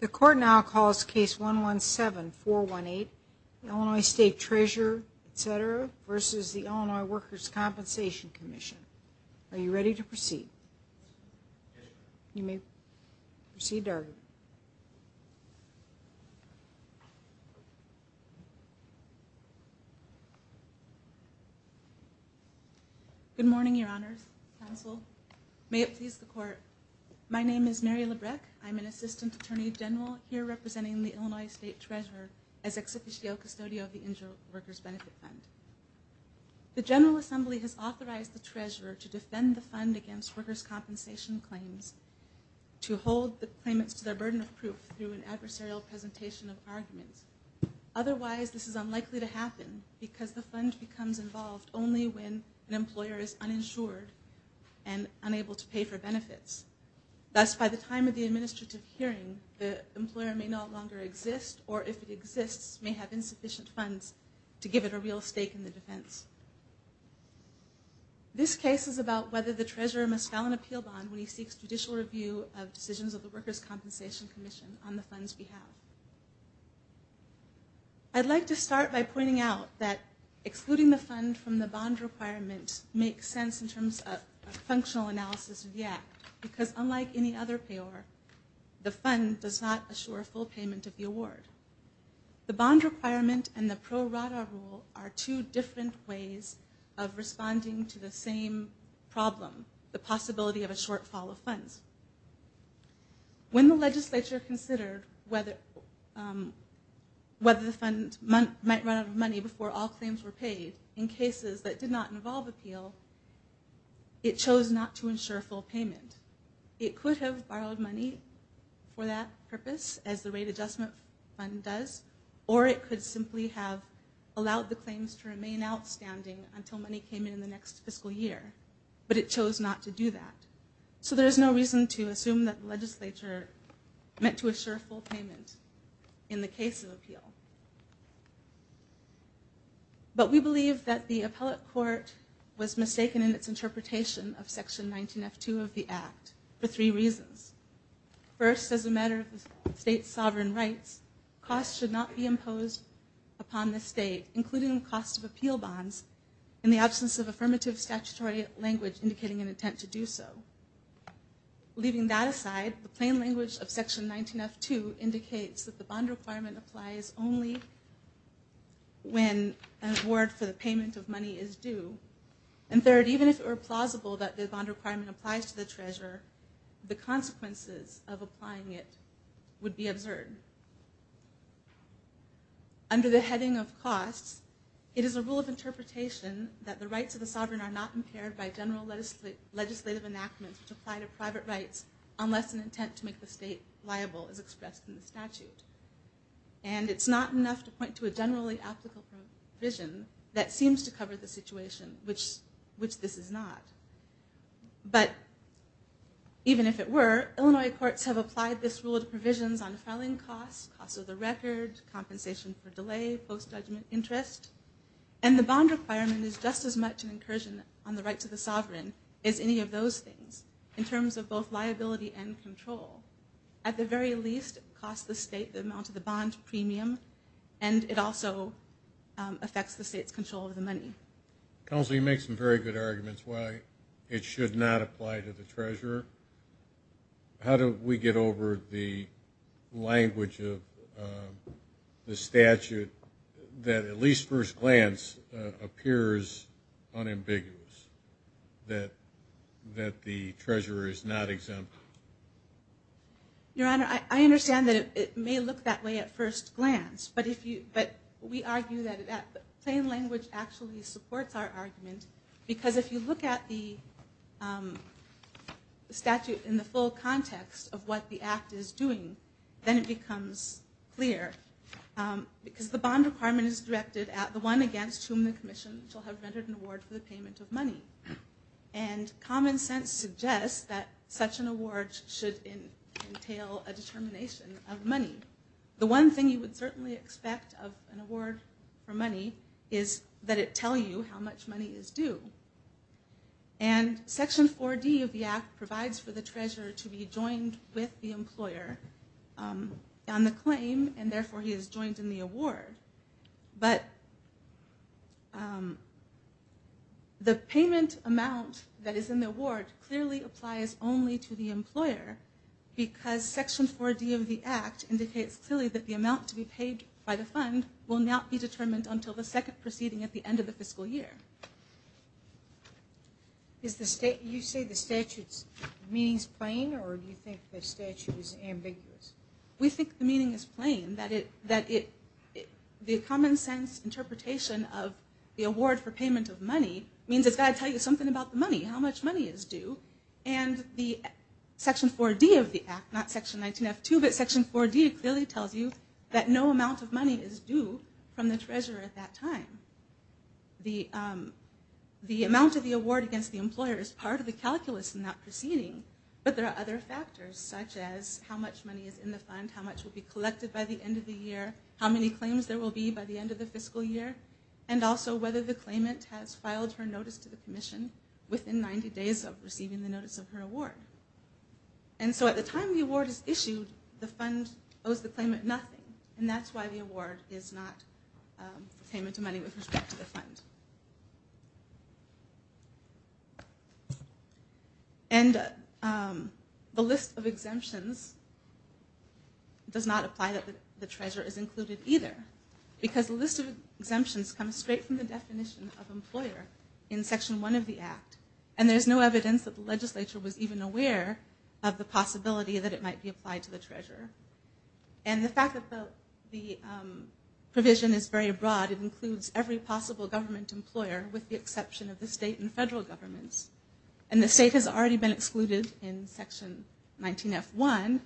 The Court now calls Case 117-418 Illinois State Treasurer v. Illinois Workers' Compensation Commission. Are you ready to proceed? You may proceed, Dargan. Good morning, Your Honors, Counsel. May it please the Court, my name is Mary Labreck. I'm an Assistant Attorney General here representing the Illinois State Treasurer as Ex Officio Custodio of the Injured Workers' Benefit Fund. The General Assembly has authorized the Treasurer to defend the fund against workers' compensation claims to hold the claimants to their burden of proof through an adversarial presentation of arguments. Otherwise, this is unlikely to happen because the fund becomes involved only when an employer is uninsured and unable to pay for benefits. Thus, by the time of the administrative hearing, the employer may no longer exist, or if it exists, may have insufficient funds to give it a real stake in the defense. This case is about whether the Treasurer must file an appeal bond when he seeks judicial review of decisions of the Workers' Compensation Commission on the fund's behalf. I'd like to start by pointing out that excluding the fund from the bond requirement makes sense in terms of functional analysis of the Act, because unlike any other payor, the fund does not assure a full payment of the award. The bond requirement and the pro rata rule are two different ways of responding to the same problem, the possibility of a shortfall of funds. When the legislature considered whether the fund might run out of money before all claims were paid, in cases that did not involve appeal, it chose not to ensure full payment. It could have borrowed money for that purpose, as the Rate Adjustment Fund does, or it could simply have allowed the claims to remain outstanding until money came in the next fiscal year, but it chose not to do that. So there's no reason to assume that the legislature meant to assure full payment in the case of appeal. But we believe that the appellate court was mistaken in its interpretation of Section 19F2 of the Act for three reasons. First, as a matter of the state's sovereign rights, costs should not be imposed upon the state, including the cost of appeal bonds, in the absence of affirmative statutory language indicating an intent to do so. Leaving that aside, the plain language of Section 19F2 indicates that the bond requirement applies only when an award for the payment of money is due. And third, even if it were plausible that the bond requirement applies to the treasurer, the consequences of applying it would be absurd. Under the heading of costs, it is a rule of interpretation that the rights of the sovereign are not impaired by general legislative enactments which apply to private rights unless an intent to make the state liable is expressed in the statute. And it's not enough to point to a generally applicable provision that seems to cover the situation, which this is not. But even if it were, Illinois courts have applied this rule to provisions on filing costs, costs of the record, compensation for delay, post-judgment interest, and the bond requirement is just as much an incursion on the rights of the sovereign as any of those things in terms of both liability and control. At the very least, it costs the state the amount of the bond premium, and it also affects the state's control of the money. Counsel, you make some very good arguments why it should not apply to the treasurer. How do we get over the language of the statute that at least first glance appears unambiguous, that the treasurer is not exempt? Your Honor, I understand that it may look that way at first glance, but we argue that plain language actually supports our argument because if you look at the statute in the full context of what the act is doing, then it becomes clear. Because the bond requirement is directed at the one against whom the commission shall have rendered an award for the payment of money. And common sense suggests that such an award should entail a determination of money. The one thing you would certainly expect of an award for money is that it tell you how much money is due. And section 4D of the act provides for the treasurer to be joined with the employer on the claim, and therefore he is joined in the award. But the payment amount that is in the award clearly applies only to the employer because section 4D of the act indicates clearly that the amount to be paid by the fund will not be determined until the second proceeding at the end of the fiscal year. You say the statute's meaning is plain, or do you think the statute is ambiguous? We think the meaning is plain. The common sense interpretation of the award for payment of money means it's got to tell you something about the money, how much money is due. And the section 4D of the act, not section 19F2, but section 4D, clearly tells you that no amount of money is due from the treasurer at that time. The amount of the award against the employer is part of the calculus in that proceeding, but there are other factors such as how much money is in the fund, how much will be collected by the end of the year, how many claims there will be by the end of the fiscal year, and also whether the claimant has filed her notice to the commission within 90 days of receiving the notice of her award. And so at the time the award is issued, the fund owes the claimant nothing, and that's why the award is not payment of money with respect to the fund. And the list of exemptions does not apply that the treasurer is included either, because the list of exemptions comes straight from the definition of employer in section 1 of the act, and there's no evidence that the legislature was even aware of the possibility that it might be applied to the treasurer. And the fact that the provision is very broad, it includes every possible government employer with the exception of the state and federal governments. And the state has already been excluded in section 19F1,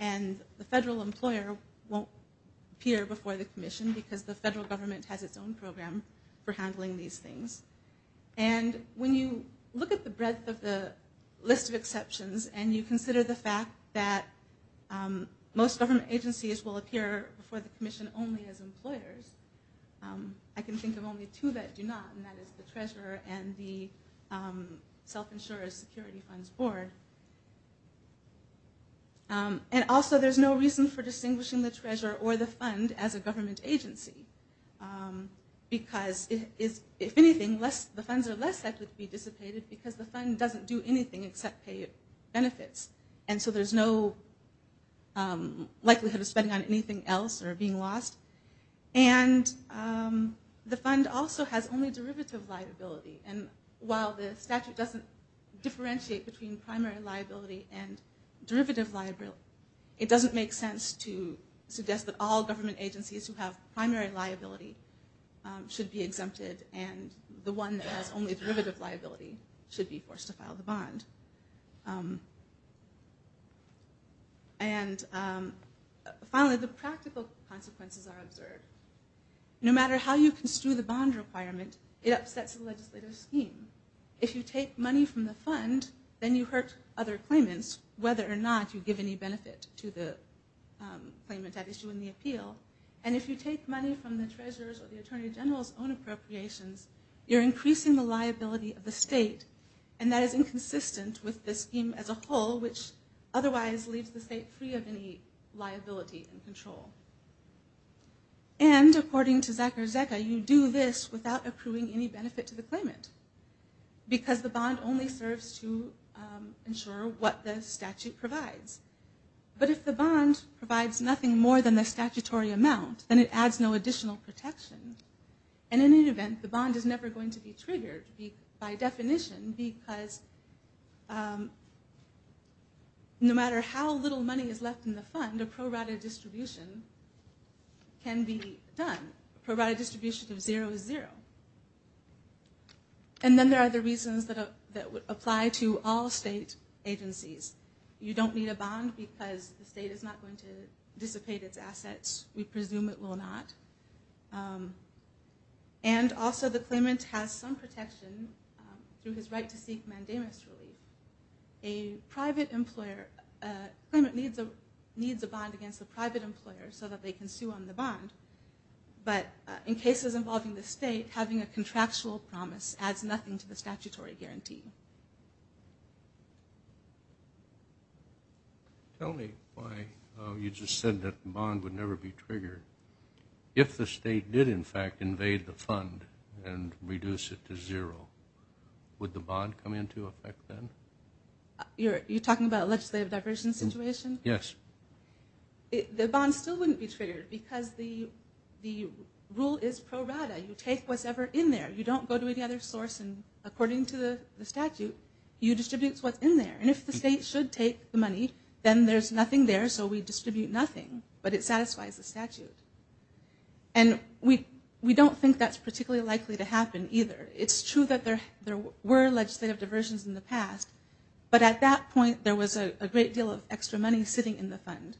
and the federal employer won't appear before the commission because the federal government has its own program for handling these things. And when you look at the breadth of the list of exceptions and you consider the fact that most government agencies will appear before the commission only as employers, I can think of only two that do not, and that is the treasurer and the self-insurer's security funds board. And also there's no reason for distinguishing the treasurer or the fund as a government agency, because if anything, the funds are less likely to be dissipated because the fund doesn't do anything except pay benefits. And so there's no likelihood of spending on anything else or being lost. And the fund also has only derivative liability, and while the statute doesn't differentiate between primary liability and derivative liability, it doesn't make sense to suggest that all government agencies who have primary liability should be exempted and the one that has only derivative liability should be forced to file the bond. And finally, the practical consequences are observed. No matter how you construe the bond requirement, it upsets the legislative scheme. If you take money from the fund, then you hurt other claimants, whether or not you give any benefit to the claimant at issue in the appeal. And if you take money from the treasurer's or the attorney general's own appropriations, you're increasing the liability of the state, and that is inconsistent with the scheme as a whole, which otherwise leaves the state free of any liability and control. And, according to Zakarzeka, you do this without accruing any benefit to the claimant, because the bond only serves to ensure what the statute provides. But if the bond provides nothing more than the statutory amount, then it adds no additional protection. And in any event, the bond is never going to be triggered by definition, because no matter how little money is left in the fund, a pro rata distribution can be done. A pro rata distribution of zero is zero. And then there are the reasons that apply to all state agencies. You don't need a bond because the state is not going to dissipate its assets. We presume it will not. And also the claimant has some protection through his right to seek mandamus relief. A private employer, a claimant needs a bond against a private employer so that they can sue on the bond. But in cases involving the state, having a contractual promise adds nothing to the statutory guarantee. Tell me why you just said that the bond would never be triggered. If the state did, in fact, invade the fund and reduce it to zero, would the bond come into effect then? You're talking about a legislative diversion situation? Yes. The bond still wouldn't be triggered, because the rule is pro rata. You take what's ever in there. You don't go to any other source, and according to the statute, you distribute what's in there. And if the state should take the money, then there's nothing there, so we distribute nothing, but it satisfies the statute. And we don't think that's particularly likely to happen either. It's true that there were legislative diversions in the past, but at that point there was a great deal of extra money sitting in the fund.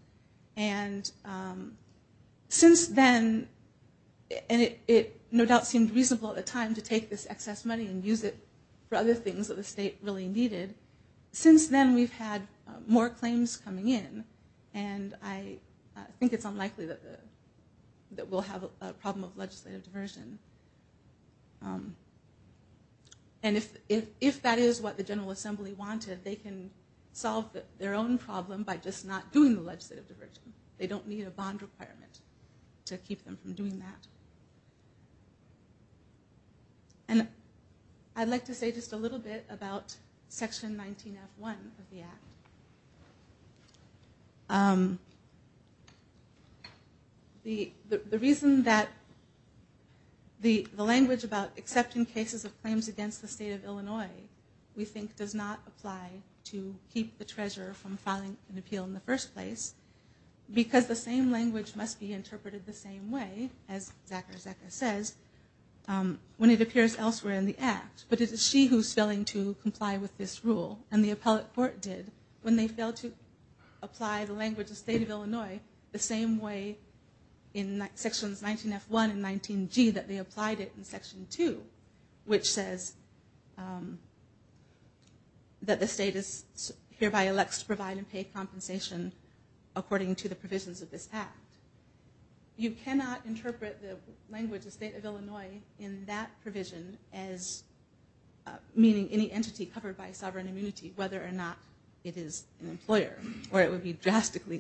And since then, and it no doubt seemed reasonable at the time to take this excess money and use it for other things that the state really needed, since then we've had more claims coming in, and I think it's unlikely that we'll have a problem of legislative diversion. And if that is what the General Assembly wanted, they can solve their own problem by just not doing the legislative diversion. They don't need a bond requirement to keep them from doing that. And I'd like to say just a little bit about Section 19F1 of the Act. The reason that the language about accepting cases of claims against the state of Illinois, we think does not apply to keep the treasurer from filing an appeal in the first place, because the same language must be interpreted the same way, as Zachary Zaka says, when it appears elsewhere in the Act. But it is she who is failing to comply with this rule, and the appellate court did when they failed to apply the language of the state of Illinois the same way in Sections 19F1 and 19G that they applied it in Section 2, which says that the state hereby elects to provide and pay compensation according to the provisions of this Act. You cannot interpret the language of the state of Illinois in that provision as meaning any entity covered by sovereign immunity, whether or not it is an employer, or it would be drastically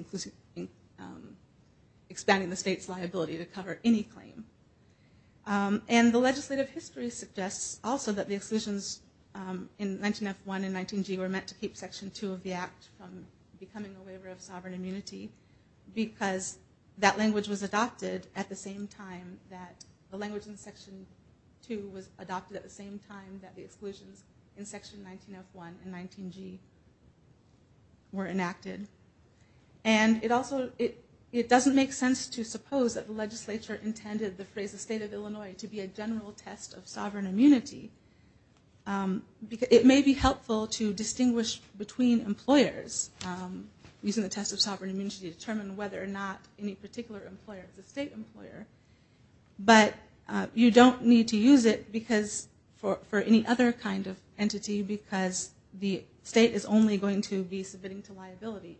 expanding the state's liability to cover any claim. And the legislative history suggests also that the exclusions in 19F1 and 19G were meant to keep Section 2 of the Act from becoming a waiver of sovereign immunity, because that language was adopted at the same time that the language in Section 2 was adopted at the same time that the exclusions in Section 19F1 and 19G were enacted. And it doesn't make sense to suppose that the legislature intended the phrase the state of Illinois to be a general test of sovereign immunity. It may be helpful to distinguish between employers using the test of sovereign immunity to determine whether or not any particular employer is a state employer, but you don't need to use it for any other kind of entity because the state is only going to be submitting to liability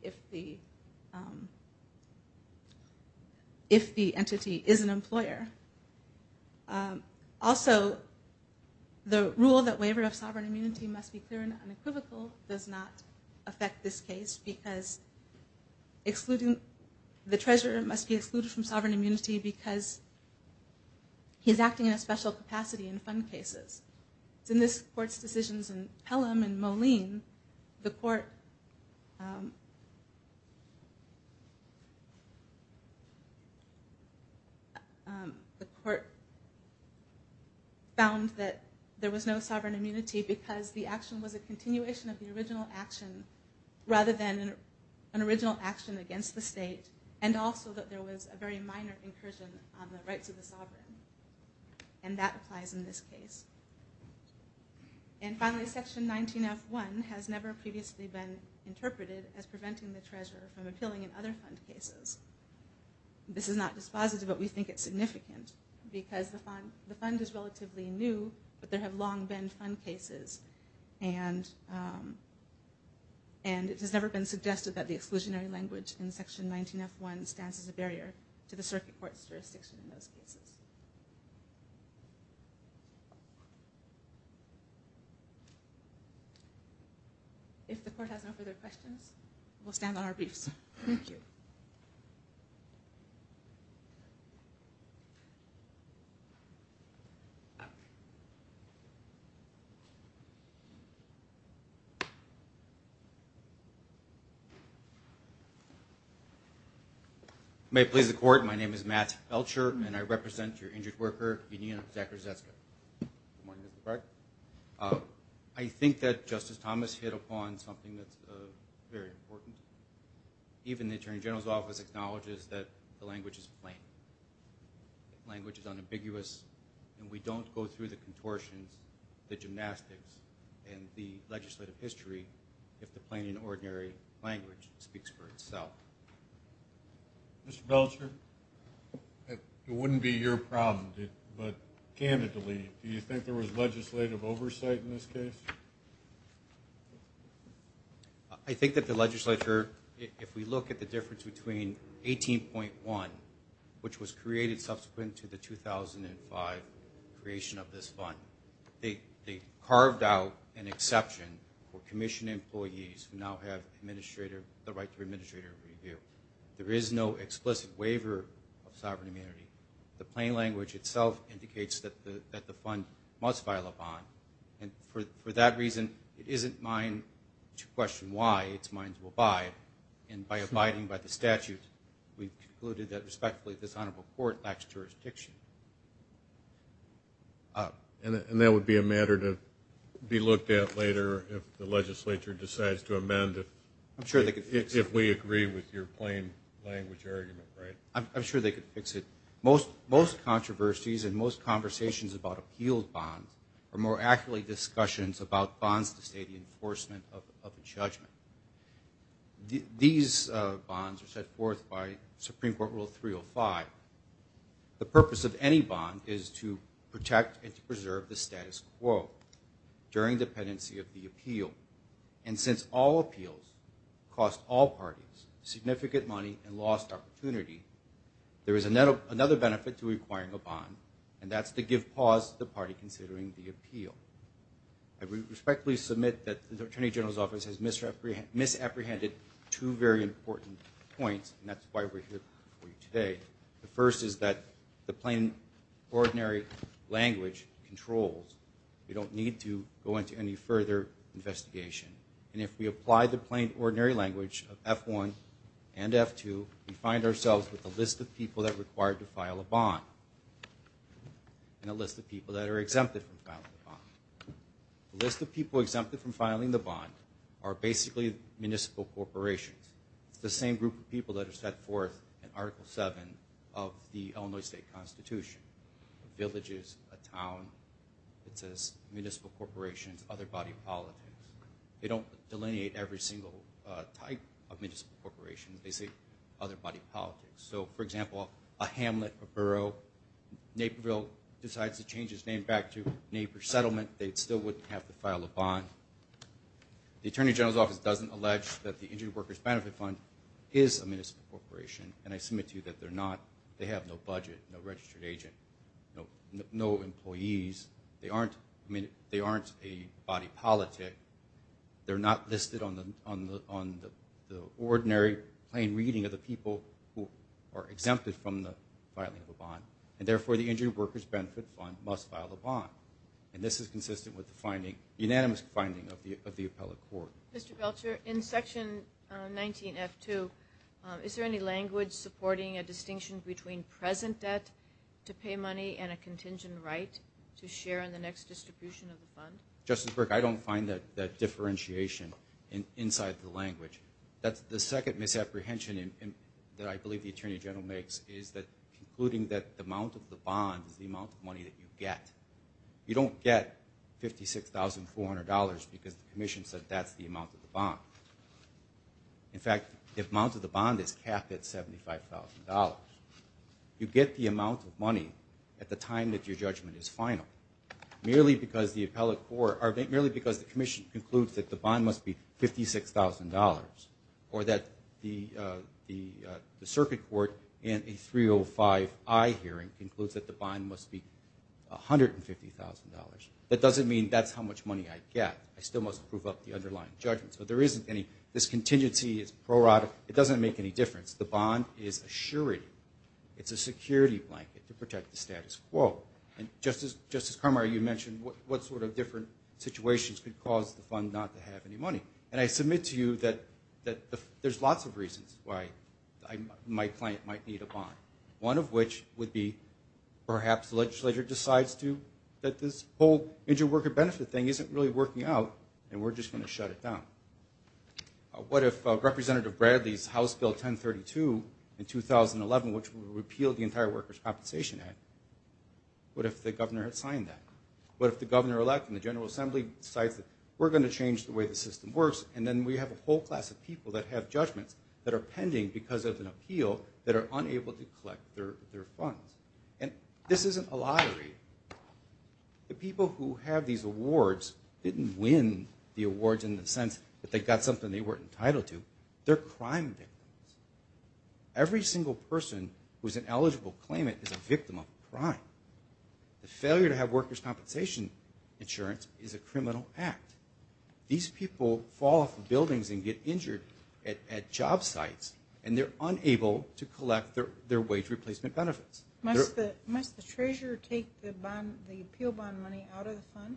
if the entity is an employer. Also, the rule that waiver of sovereign immunity must be clear and unequivocal does not affect this case because the treasurer must be excluded from sovereign immunity because he's acting in a special capacity in fund cases. So in this court's decisions in Pelham and Moline, the court found that there was no sovereign immunity because the action was a continuation of the original action rather than an original action against the state, and also that there was a very minor incursion on the rights of the sovereign. And that applies in this case. And finally, Section 19F1 has never previously been interpreted as preventing the treasurer from appealing in other fund cases. This is not dispositive, but we think it's significant because the fund is relatively new, but there have long been fund cases, and it has never been suggested that the exclusionary language in Section 19F1 stands as a barrier to the circuit court's jurisdiction in those cases. If the court has no further questions, we'll stand on our briefs. Thank you. May it please the court. My name is Matt Belcher, and I represent your injured worker, Benita Zacharzeska. Good morning, Mr. Clark. I think that Justice Thomas hit upon something that's very important. Even the Attorney General's Office acknowledges that the language is plain. Language is unambiguous, and we don't go through the contortions, the gymnastics, and the legislative history if the plain and ordinary language speaks for itself. Mr. Belcher, it wouldn't be your problem, but candidly, do you think there was legislative oversight in this case? I think that the legislature, if we look at the difference between 18.1, which was created subsequent to the 2005 creation of this fund, they carved out an exception for commission employees who now have the right to administrator review. There is no explicit waiver of sovereign immunity. The plain language itself indicates that the fund must file a bond, and for that reason, it isn't mine to question why. It's mine to abide, and by abiding by the statute, we concluded that, respectfully, this honorable court lacks jurisdiction. And that would be a matter to be looked at later if the legislature decides to amend if we agree with your plain language argument, right? I'm sure they could fix it. Most controversies and most conversations about appealed bonds are more accurately discussions about bonds to state the enforcement of a judgment. These bonds are set forth by Supreme Court Rule 305. The purpose of any bond is to protect and to preserve the status quo during dependency of the appeal, and since all appeals cost all parties significant money and lost opportunity, there is another benefit to requiring a bond, and that's to give pause to the party considering the appeal. I respectfully submit that the Attorney General's Office has misapprehended two very important points, and that's why we're here for you today. The first is that the plain ordinary language controls. We don't need to go into any further investigation, and if we apply the plain ordinary language of F-1 and F-2, we find ourselves with a list of people that are required to file a bond and a list of people that are exempted from filing a bond. The list of people exempted from filing the bond are basically municipal corporations. It's the same group of people that are set forth in Article 7 of the Illinois State Constitution. Villages, a town, it says municipal corporations, other body politics. They don't delineate every single type of municipal corporation. They say other body politics. So, for example, a hamlet, a borough, Naperville decides to change its name back to Napers Settlement, they still wouldn't have to file a bond. The Attorney General's Office doesn't allege that the Injured Workers Benefit Fund is a municipal corporation, and I submit to you that they're not. They have no budget, no registered agent, no employees. They aren't a body politic. They're not listed on the ordinary plain reading of the people who are exempted from the filing of a bond, and therefore the Injured Workers Benefit Fund must file a bond. And this is consistent with the unanimous finding of the appellate court. Mr. Belcher, in Section 19F2, is there any language supporting a distinction between present debt to pay money and a contingent right to share in the next distribution of the fund? Justice Burke, I don't find that differentiation inside the language. The second misapprehension that I believe the Attorney General makes is concluding that the amount of the bond is the amount of money that you get. You don't get $56,400 because the commission said that's the amount of the bond. In fact, the amount of the bond is capped at $75,000. You get the amount of money at the time that your judgment is final, merely because the commission concludes that the bond must be $56,000, or that the circuit court in a 305I hearing concludes that the bond must be $150,000. That doesn't mean that's how much money I get. I still must prove up the underlying judgment. So this contingency is prorogative. It doesn't make any difference. The bond is a surety. It's a security blanket to protect the status quo. Justice Carmar, you mentioned what sort of different situations could cause the fund not to have any money. And I submit to you that there's lots of reasons why my client might need a bond, one of which would be perhaps the legislature decides to that this whole injured worker benefit thing isn't really working out, and we're just going to shut it down. What if Representative Bradley's House Bill 1032 in 2011, which would repeal the entire Workers' Compensation Act, what if the governor had signed that? What if the governor-elect in the General Assembly decides that we're going to change the way the system works, and then we have a whole class of people that have judgments that are pending because of an appeal that are unable to collect their funds? And this isn't a lottery. The people who have these awards didn't win the awards in the sense that they got something they weren't entitled to. They're crime victims. Every single person who's ineligible to claim it is a victim of a crime. The failure to have workers' compensation insurance is a criminal act. These people fall off buildings and get injured at job sites, and they're unable to collect their wage replacement benefits. Must the treasurer take the appeal bond money out of the fund?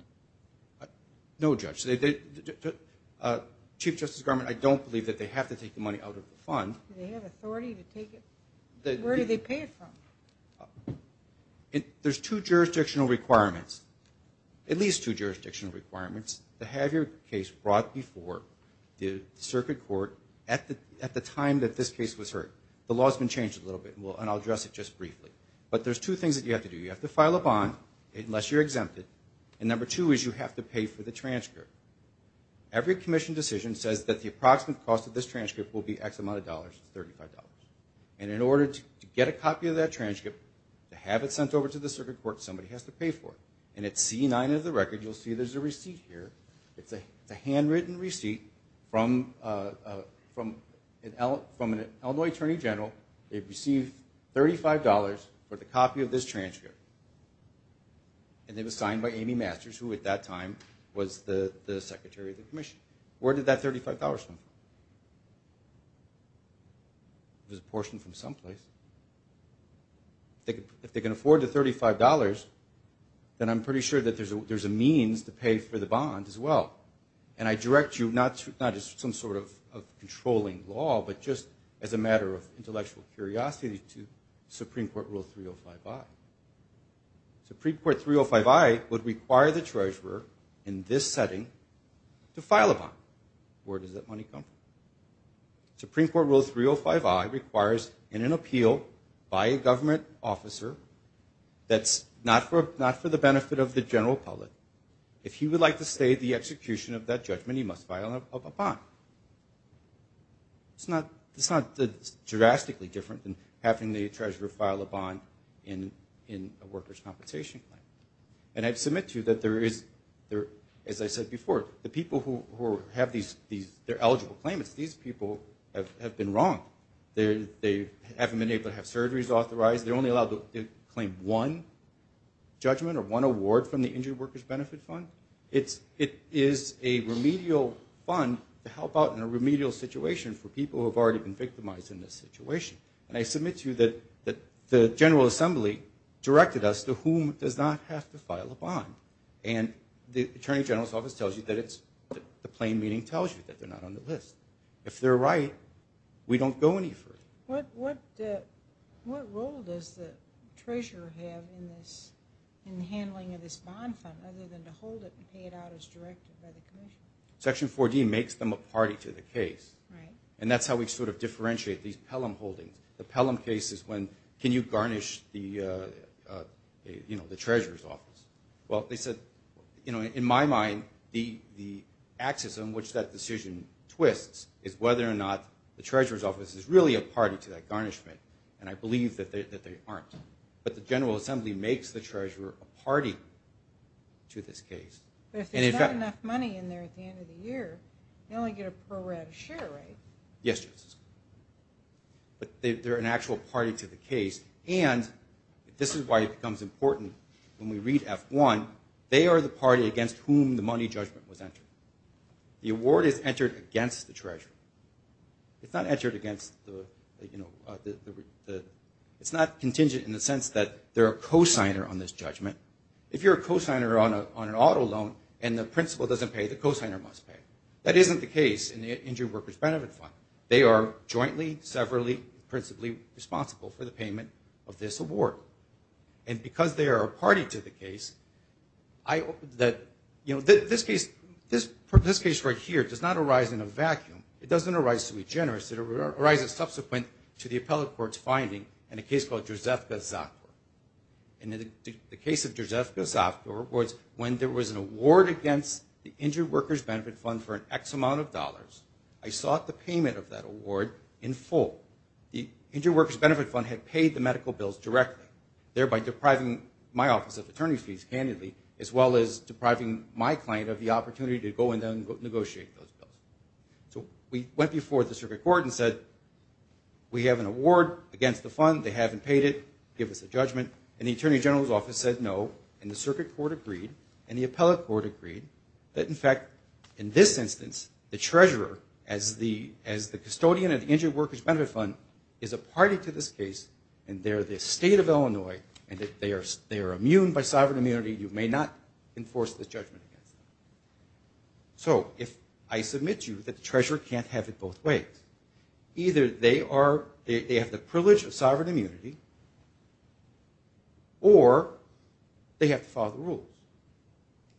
No, Judge. Chief Justice Garment, I don't believe that they have to take the money out of the fund. Do they have authority to take it? Where do they pay it from? There's two jurisdictional requirements, at least two jurisdictional requirements, to have your case brought before the circuit court at the time that this case was heard. The law's been changed a little bit, and I'll address it just briefly. But there's two things that you have to do. You have to file a bond unless you're exempted, and number two is you have to pay for the transcript. Every commission decision says that the approximate cost of this transcript will be X amount of dollars, $35. And in order to get a copy of that transcript, to have it sent over to the circuit court, somebody has to pay for it. And at C9 of the record, you'll see there's a receipt here. It's a handwritten receipt from an Illinois attorney general. They've received $35 for the copy of this transcript, and it was signed by Amy Masters, who at that time was the secretary of the commission. Where did that $35 come from? It was apportioned from someplace. If they can afford the $35, then I'm pretty sure that there's a means to pay for the bond as well. And I direct you not as some sort of controlling law, but just as a matter of intellectual curiosity to Supreme Court Rule 305I. Supreme Court 305I would require the treasurer in this setting to file a bond. Where does that money come from? Supreme Court Rule 305I requires in an appeal by a government officer that's not for the benefit of the general public, if he would like to stay the execution of that judgment, he must file a bond. It's not drastically different than having the treasurer file a bond in a workers' compensation claim. And I'd submit to you that there is, as I said before, the people who have these eligible claimants, these people have been wronged. They haven't been able to have surgeries authorized. They're only allowed to claim one judgment or one award from the Injured Workers' Benefit Fund. It is a remedial fund to help out in a remedial situation for people who have already been victimized in this situation. And I submit to you that the General Assembly directed us to whom does not have to file a bond. And the Attorney General's Office tells you that it's the plain meaning tells you that they're not on the list. If they're right, we don't go any further. What role does the treasurer have in this, in handling of this bond fund other than to hold it and pay it out as directed by the commission? Section 4D makes them a party to the case. And that's how we sort of differentiate these Pelham holdings. The Pelham case is when can you garnish the treasurer's office. Well, they said, in my mind, the axis on which that decision twists is whether or not the treasurer's office is really a party to that garnishment. And I believe that they aren't. But the General Assembly makes the treasurer a party to this case. But if there's not enough money in there at the end of the year, you only get a pro-ratus share rate. Yes, Justice. But they're an actual party to the case. And this is why it becomes important when we read F1, they are the party against whom the money judgment was entered. The award is entered against the treasurer. It's not entered against the, you know, it's not contingent in the sense that they're a cosigner on this judgment. If you're a cosigner on an auto loan and the principal doesn't pay, the cosigner must pay. That isn't the case in the Injured Workers' Benefit Fund. They are jointly, severally, principally responsible for the payment of this award. And because they are a party to the case, I hope that, you know, this case right here does not arise in a vacuum. It doesn't arise to be generous. It arises subsequent to the appellate court's finding in a case called Drzevka-Zakor. And in the case of Drzevka-Zakor, when there was an award against the Injured Workers' Benefit Fund for an X amount of dollars, I sought the payment of that award in full. The Injured Workers' Benefit Fund had paid the medical bills directly, thereby depriving my office of attorney fees handily, as well as depriving my client of the opportunity to go in and negotiate those bills. So we went before the circuit court and said, We have an award against the fund. They haven't paid it. Give us a judgment. And the attorney general's office said no, and the circuit court agreed, and the appellate court agreed that, in fact, in this instance, the treasurer, as the custodian of the Injured Workers' Benefit Fund, is a party to this case, and they're the state of Illinois, and they are immune by sovereign immunity. You may not enforce this judgment against them. So if I submit to you that the treasurer can't have it both ways, either they have the privilege of sovereign immunity or they have to follow the rules.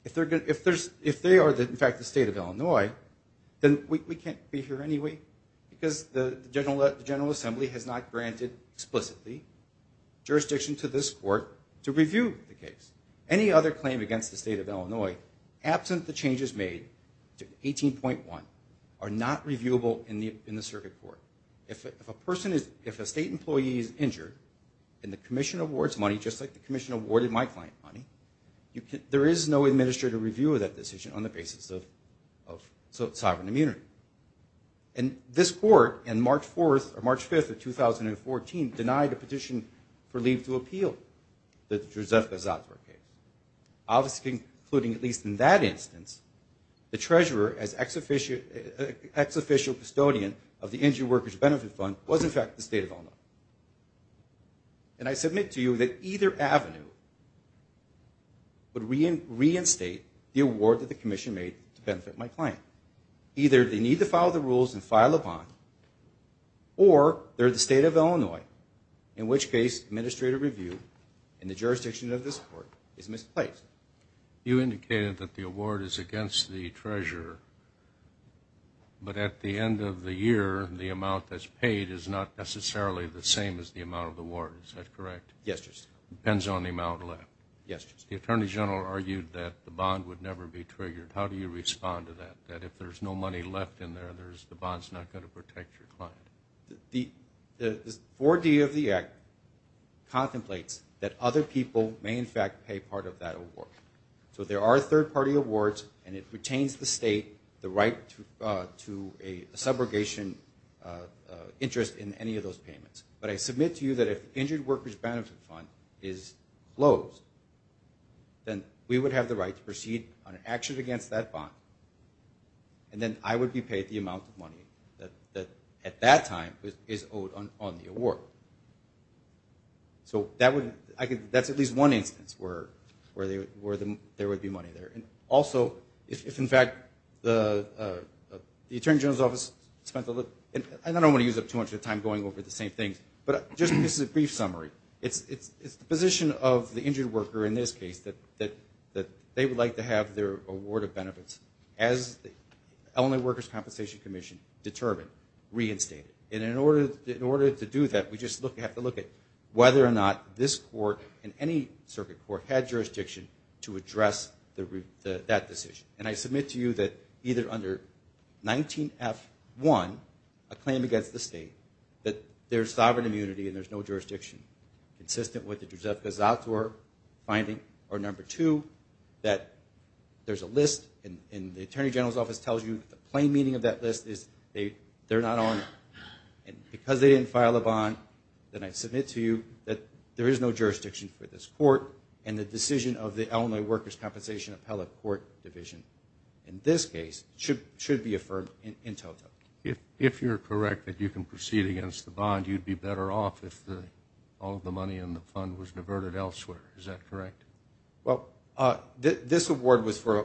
If they are, in fact, the state of Illinois, then we can't be here anyway because the General Assembly has not granted explicitly jurisdiction to this court to review the case. Any other claim against the state of Illinois, absent the changes made to 18.1, are not reviewable in the circuit court. If a state employee is injured and the commission awards money, just like the commission awarded my client money, there is no administrative review of that decision on the basis of sovereign immunity. And this court, on March 4th or March 5th of 2014, denied a petition for leave to appeal the Joseph Gazatra case. Obviously, including at least in that instance, the treasurer, as ex-official custodian of the Injured Workers' Benefit Fund, was, in fact, the state of Illinois. And I submit to you that either avenue would reinstate the award that the commission made to benefit my client. Either they need to follow the rules and file a bond, or they're the state of Illinois, in which case administrative review in the jurisdiction of this court is misplaced. You indicated that the award is against the treasurer, but at the end of the year the amount that's paid is not necessarily the same as the amount of the award. Is that correct? Yes, Justice. It depends on the amount left. Yes, Justice. The Attorney General argued that the bond would never be triggered. How do you respond to that? That if there's no money left in there, the bond's not going to protect your client. The 4D of the Act contemplates that other people may, in fact, pay part of that award. So there are third-party awards, and it pertains to the state, the right to a subrogation interest in any of those payments. But I submit to you that if the Injured Workers' Benefit Fund is closed, then we would have the right to proceed on an action against that bond, and then I would be paid the amount of money that, at that time, is owed on the award. So that's at least one instance where there would be money there. Also, if, in fact, the Attorney General's Office spent a little bit, and I don't want to use up too much of your time going over the same things, but just this is a brief summary. It's the position of the injured worker, in this case, that they would like to have their award of benefits, as the Elderly Workers' Compensation Commission determined, reinstated. And in order to do that, we just have to look at whether or not this court and any circuit court had jurisdiction to address that decision. And I submit to you that either under 19F1, a claim against the state, that there's sovereign immunity and there's no jurisdiction, consistent with the Druzevka-Zator finding, or number two, that there's a list, and the Attorney General's Office tells you the plain meaning of that list is they're not on it. And because they didn't file a bond, then I submit to you that there is no jurisdiction for this court, and the decision of the Elderly Workers' Compensation Appellate Court Division, in this case, should be affirmed in totem. If you're correct that you can proceed against the bond, you'd be better off if all of the money in the fund was diverted elsewhere. Is that correct? Well, this award was for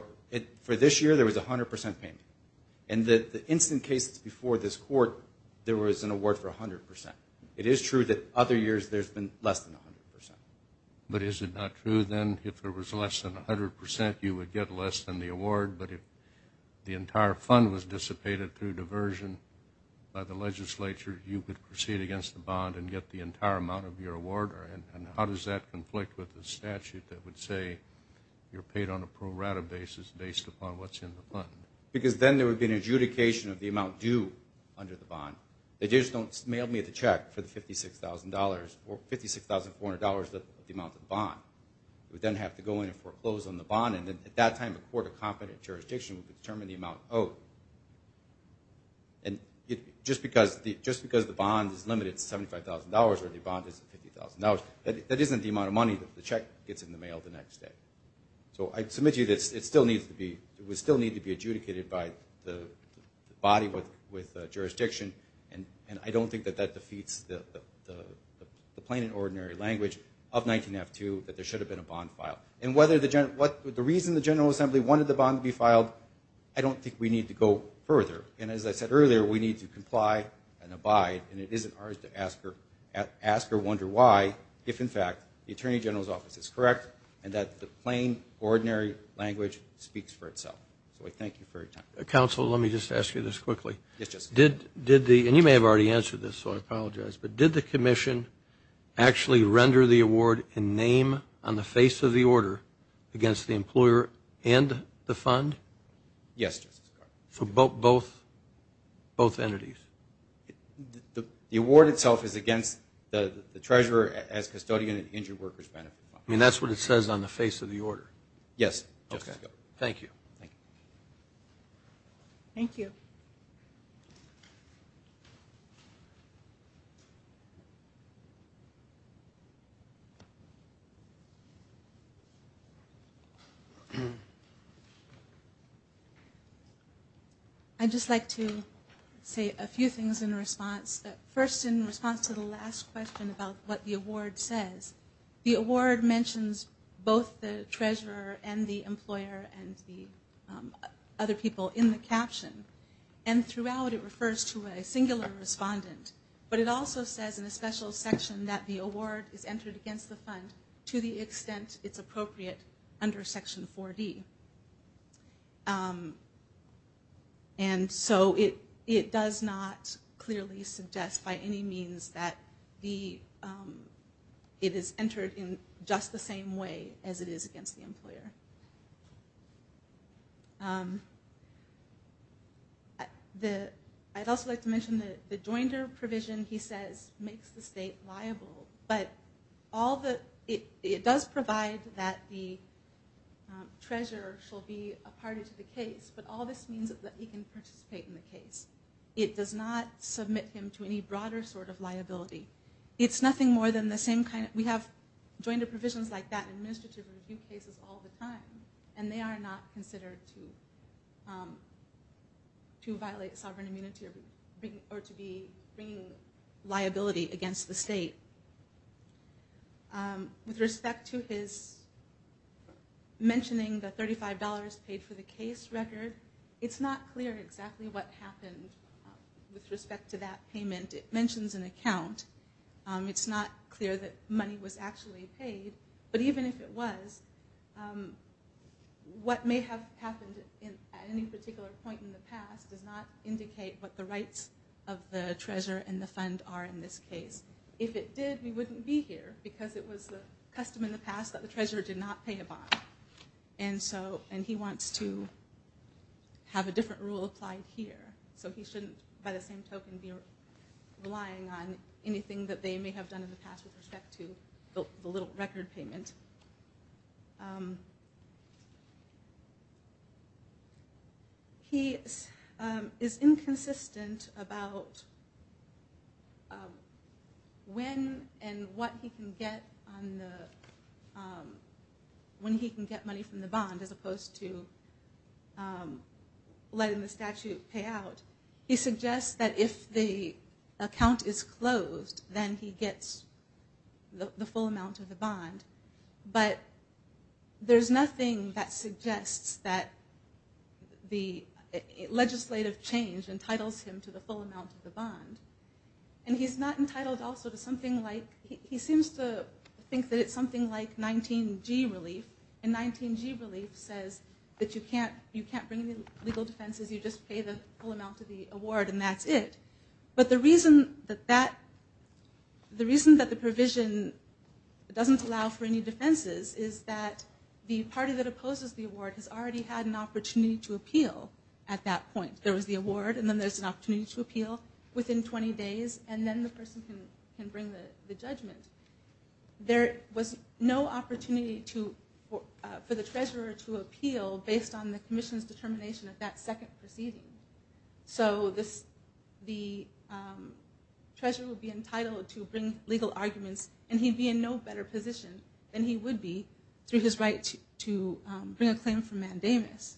this year, there was 100% payment. And the instant cases before this court, there was an award for 100%. It is true that other years there's been less than 100%. But is it not true, then, if there was less than 100%, you would get less than the award, but if the entire fund was dissipated through diversion by the legislature, you could proceed against the bond and get the entire amount of your award? And how does that conflict with the statute that would say you're paid on a pro rata basis based upon what's in the fund? Because then there would be an adjudication of the amount due under the bond. They just don't mail me the check for the $56,400 of the amount of the bond. It would then have to go in and foreclose on the bond, and at that time a court of competent jurisdiction would determine the amount owed. And just because the bond is limited to $75,000 or the bond is $50,000, that isn't the amount of money that the check gets in the mail the next day. So I submit to you that we still need to be adjudicated by the body with jurisdiction, and I don't think that that defeats the plain and ordinary language of 19F2 that there should have been a bond file. And the reason the General Assembly wanted the bond to be filed, I don't think we need to go further. And as I said earlier, we need to comply and abide, and it isn't ours to ask or wonder why if, in fact, the Attorney General's office is correct and that the plain, ordinary language speaks for itself. So I thank you for your time. Counsel, let me just ask you this quickly. Yes, Justice. And you may have already answered this, so I apologize, but did the commission actually render the award in name on the face of the order against the employer and the fund? Yes, Justice. So both entities? The award itself is against the treasurer as custodian and injured workers benefit fund. I mean, that's what it says on the face of the order? Yes. Okay. Thank you. Thank you. I'd just like to say a few things in response. First, in response to the last question about what the award says, the award mentions both the treasurer and the employer and the other people in the caption, and throughout it refers to a singular respondent. But it also says in a special section that the award is entered against the fund to the extent it's appropriate under Section 4D. And so it does not clearly suggest by any means that it is entered in just the same way as it is against the employer. I'd also like to mention that the joinder provision, he says, makes the state liable, but it does provide that the treasurer shall be a party to the case, but all this means is that he can participate in the case. It does not submit him to any broader sort of liability. It's nothing more than the same kind of – we have joinder provisions like that in administrative review cases all the time, and they are not considered to violate sovereign immunity or to be bringing liability against the state. With respect to his mentioning the $35 paid for the case record, it's not clear exactly what happened with respect to that payment. It mentions an account. It's not clear that money was actually paid, but even if it was, what may have happened at any particular point in the past does not indicate what the rights of the treasurer and the fund are in this case. If it did, we wouldn't be here because it was custom in the past that the treasurer did not pay a bond. And he wants to have a different rule applied here, so he shouldn't, by the same token, be relying on anything that they may have done in the past with respect to the little record payment. He is inconsistent about when and what he can get money from the bond, as opposed to letting the statute pay out. He suggests that if the account is closed, then he gets the full amount of the bond, but there's nothing that suggests that the legislative change entitles him to the full amount of the bond, and he's not entitled also to something like, he seems to think that it's something like 19G relief, and 19G relief says that you can't bring any legal defenses, you just pay the full amount of the award and that's it. But the reason that the provision doesn't allow for any defenses is that the party that opposes the award has already had an opportunity to appeal at that point. There was the award, and then there's an opportunity to appeal within 20 days, and then the person can bring the judgment. There was no opportunity for the treasurer to appeal based on the commission's determination at that second proceeding. So the treasurer would be entitled to bring legal arguments, and he'd be in no better position than he would be through his right to bring a claim for mandamus.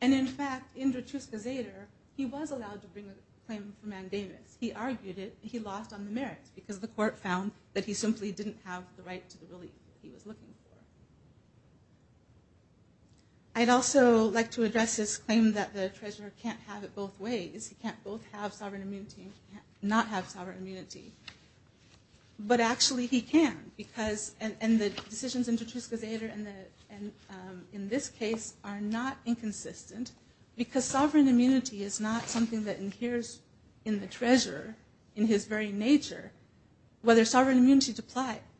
And in fact, in Drutuska-Zater, he was allowed to bring a claim for mandamus. He argued it, and he lost on the merits because the court found that he simply didn't have the right to the relief that he was looking for. I'd also like to address this claim that the treasurer can't have it both ways. He can't both have sovereign immunity and not have sovereign immunity. But actually he can, and the decisions in Drutuska-Zater and in this case are not inconsistent because sovereign immunity is not something that inheres in the treasurer in his very nature. Whether sovereign immunity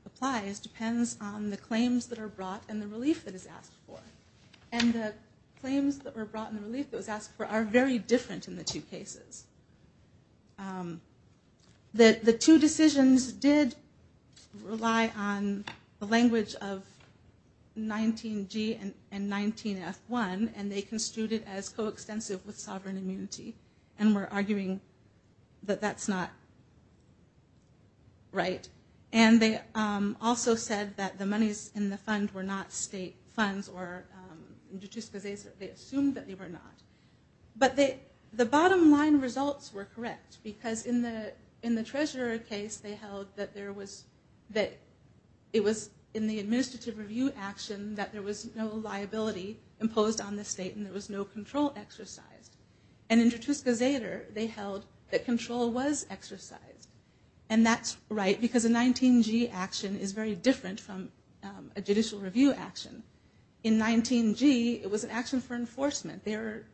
applies depends on the claims that are brought and the relief that is asked for. And the claims that were brought and the relief that was asked for are very different in the two cases. The two decisions did rely on the language of 19G and 19F1, and they construed it as coextensive with sovereign immunity, and were arguing that that's not right. And they also said that the monies in the fund were not state funds, or in Drutuska-Zater, they assumed that they were not. But the bottom line results were correct because in the treasurer case, they held that it was in the administrative review action that there was no liability imposed on the state and there was no control exercised. And in Drutuska-Zater, they held that control was exercised. And that's right because a 19G action is very different from a judicial review action. In 19G, it was an action for enforcement. They are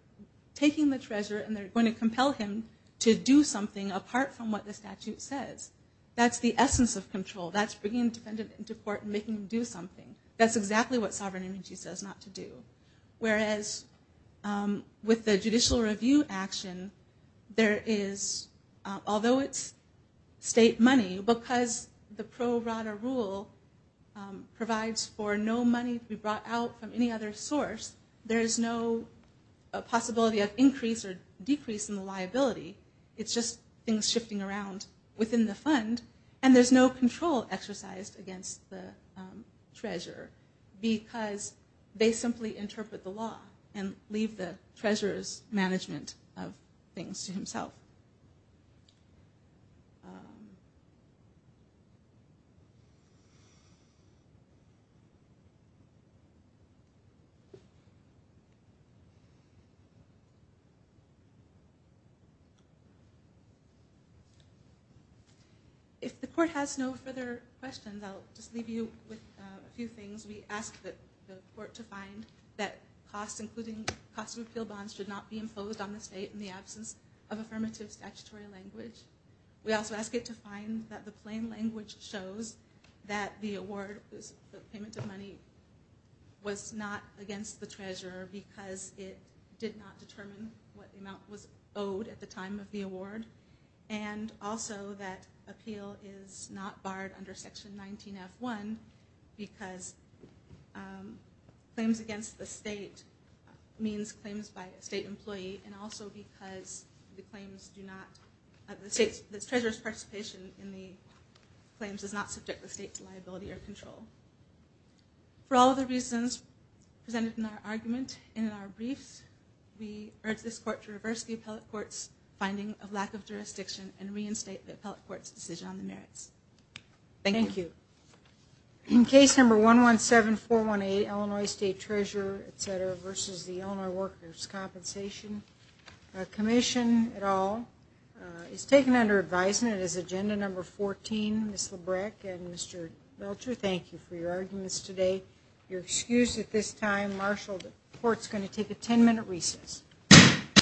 taking the treasurer and they're going to compel him to do something apart from what the statute says. That's the essence of control. That's bringing a defendant into court and making him do something. That's exactly what sovereign immunity says not to do. Whereas with the judicial review action, there is, although it's state money, because the pro rata rule provides for no money to be brought out from any other source, there is no possibility of increase or decrease in the liability. It's just things shifting around within the fund, and there's no control exercised against the treasurer because they simply interpret the law and leave the treasurer's management of things to himself. If the court has no further questions, I'll just leave you with a few things. We ask the court to find that costs, including cost of appeal bonds, should not be imposed on the state in the absence of affirmative statutory language. We also ask it to find that the plain language shows that the award, the payment of money, was not against the treasurer because it did not determine what amount was owed at the time of the award. And also that appeal is not barred under Section 19F1 because claims against the state means claims by a state employee, and also because the treasurer's participation in the claims is not subject to the state's liability or control. For all of the reasons presented in our argument and in our briefs, we urge this court to reverse the appellate court's finding of lack of jurisdiction and reinstate the appellate court's decision on the merits. Thank you. Thank you. In case number 117418, Illinois State Treasurer, etc., versus the Illinois Workers' Compensation Commission, et al., is taken under advisement as agenda number 14. Ms. Labreck and Mr. Belcher, thank you for your arguments today. Your excuse at this time, Marshall, the court's going to take a 10-minute recess.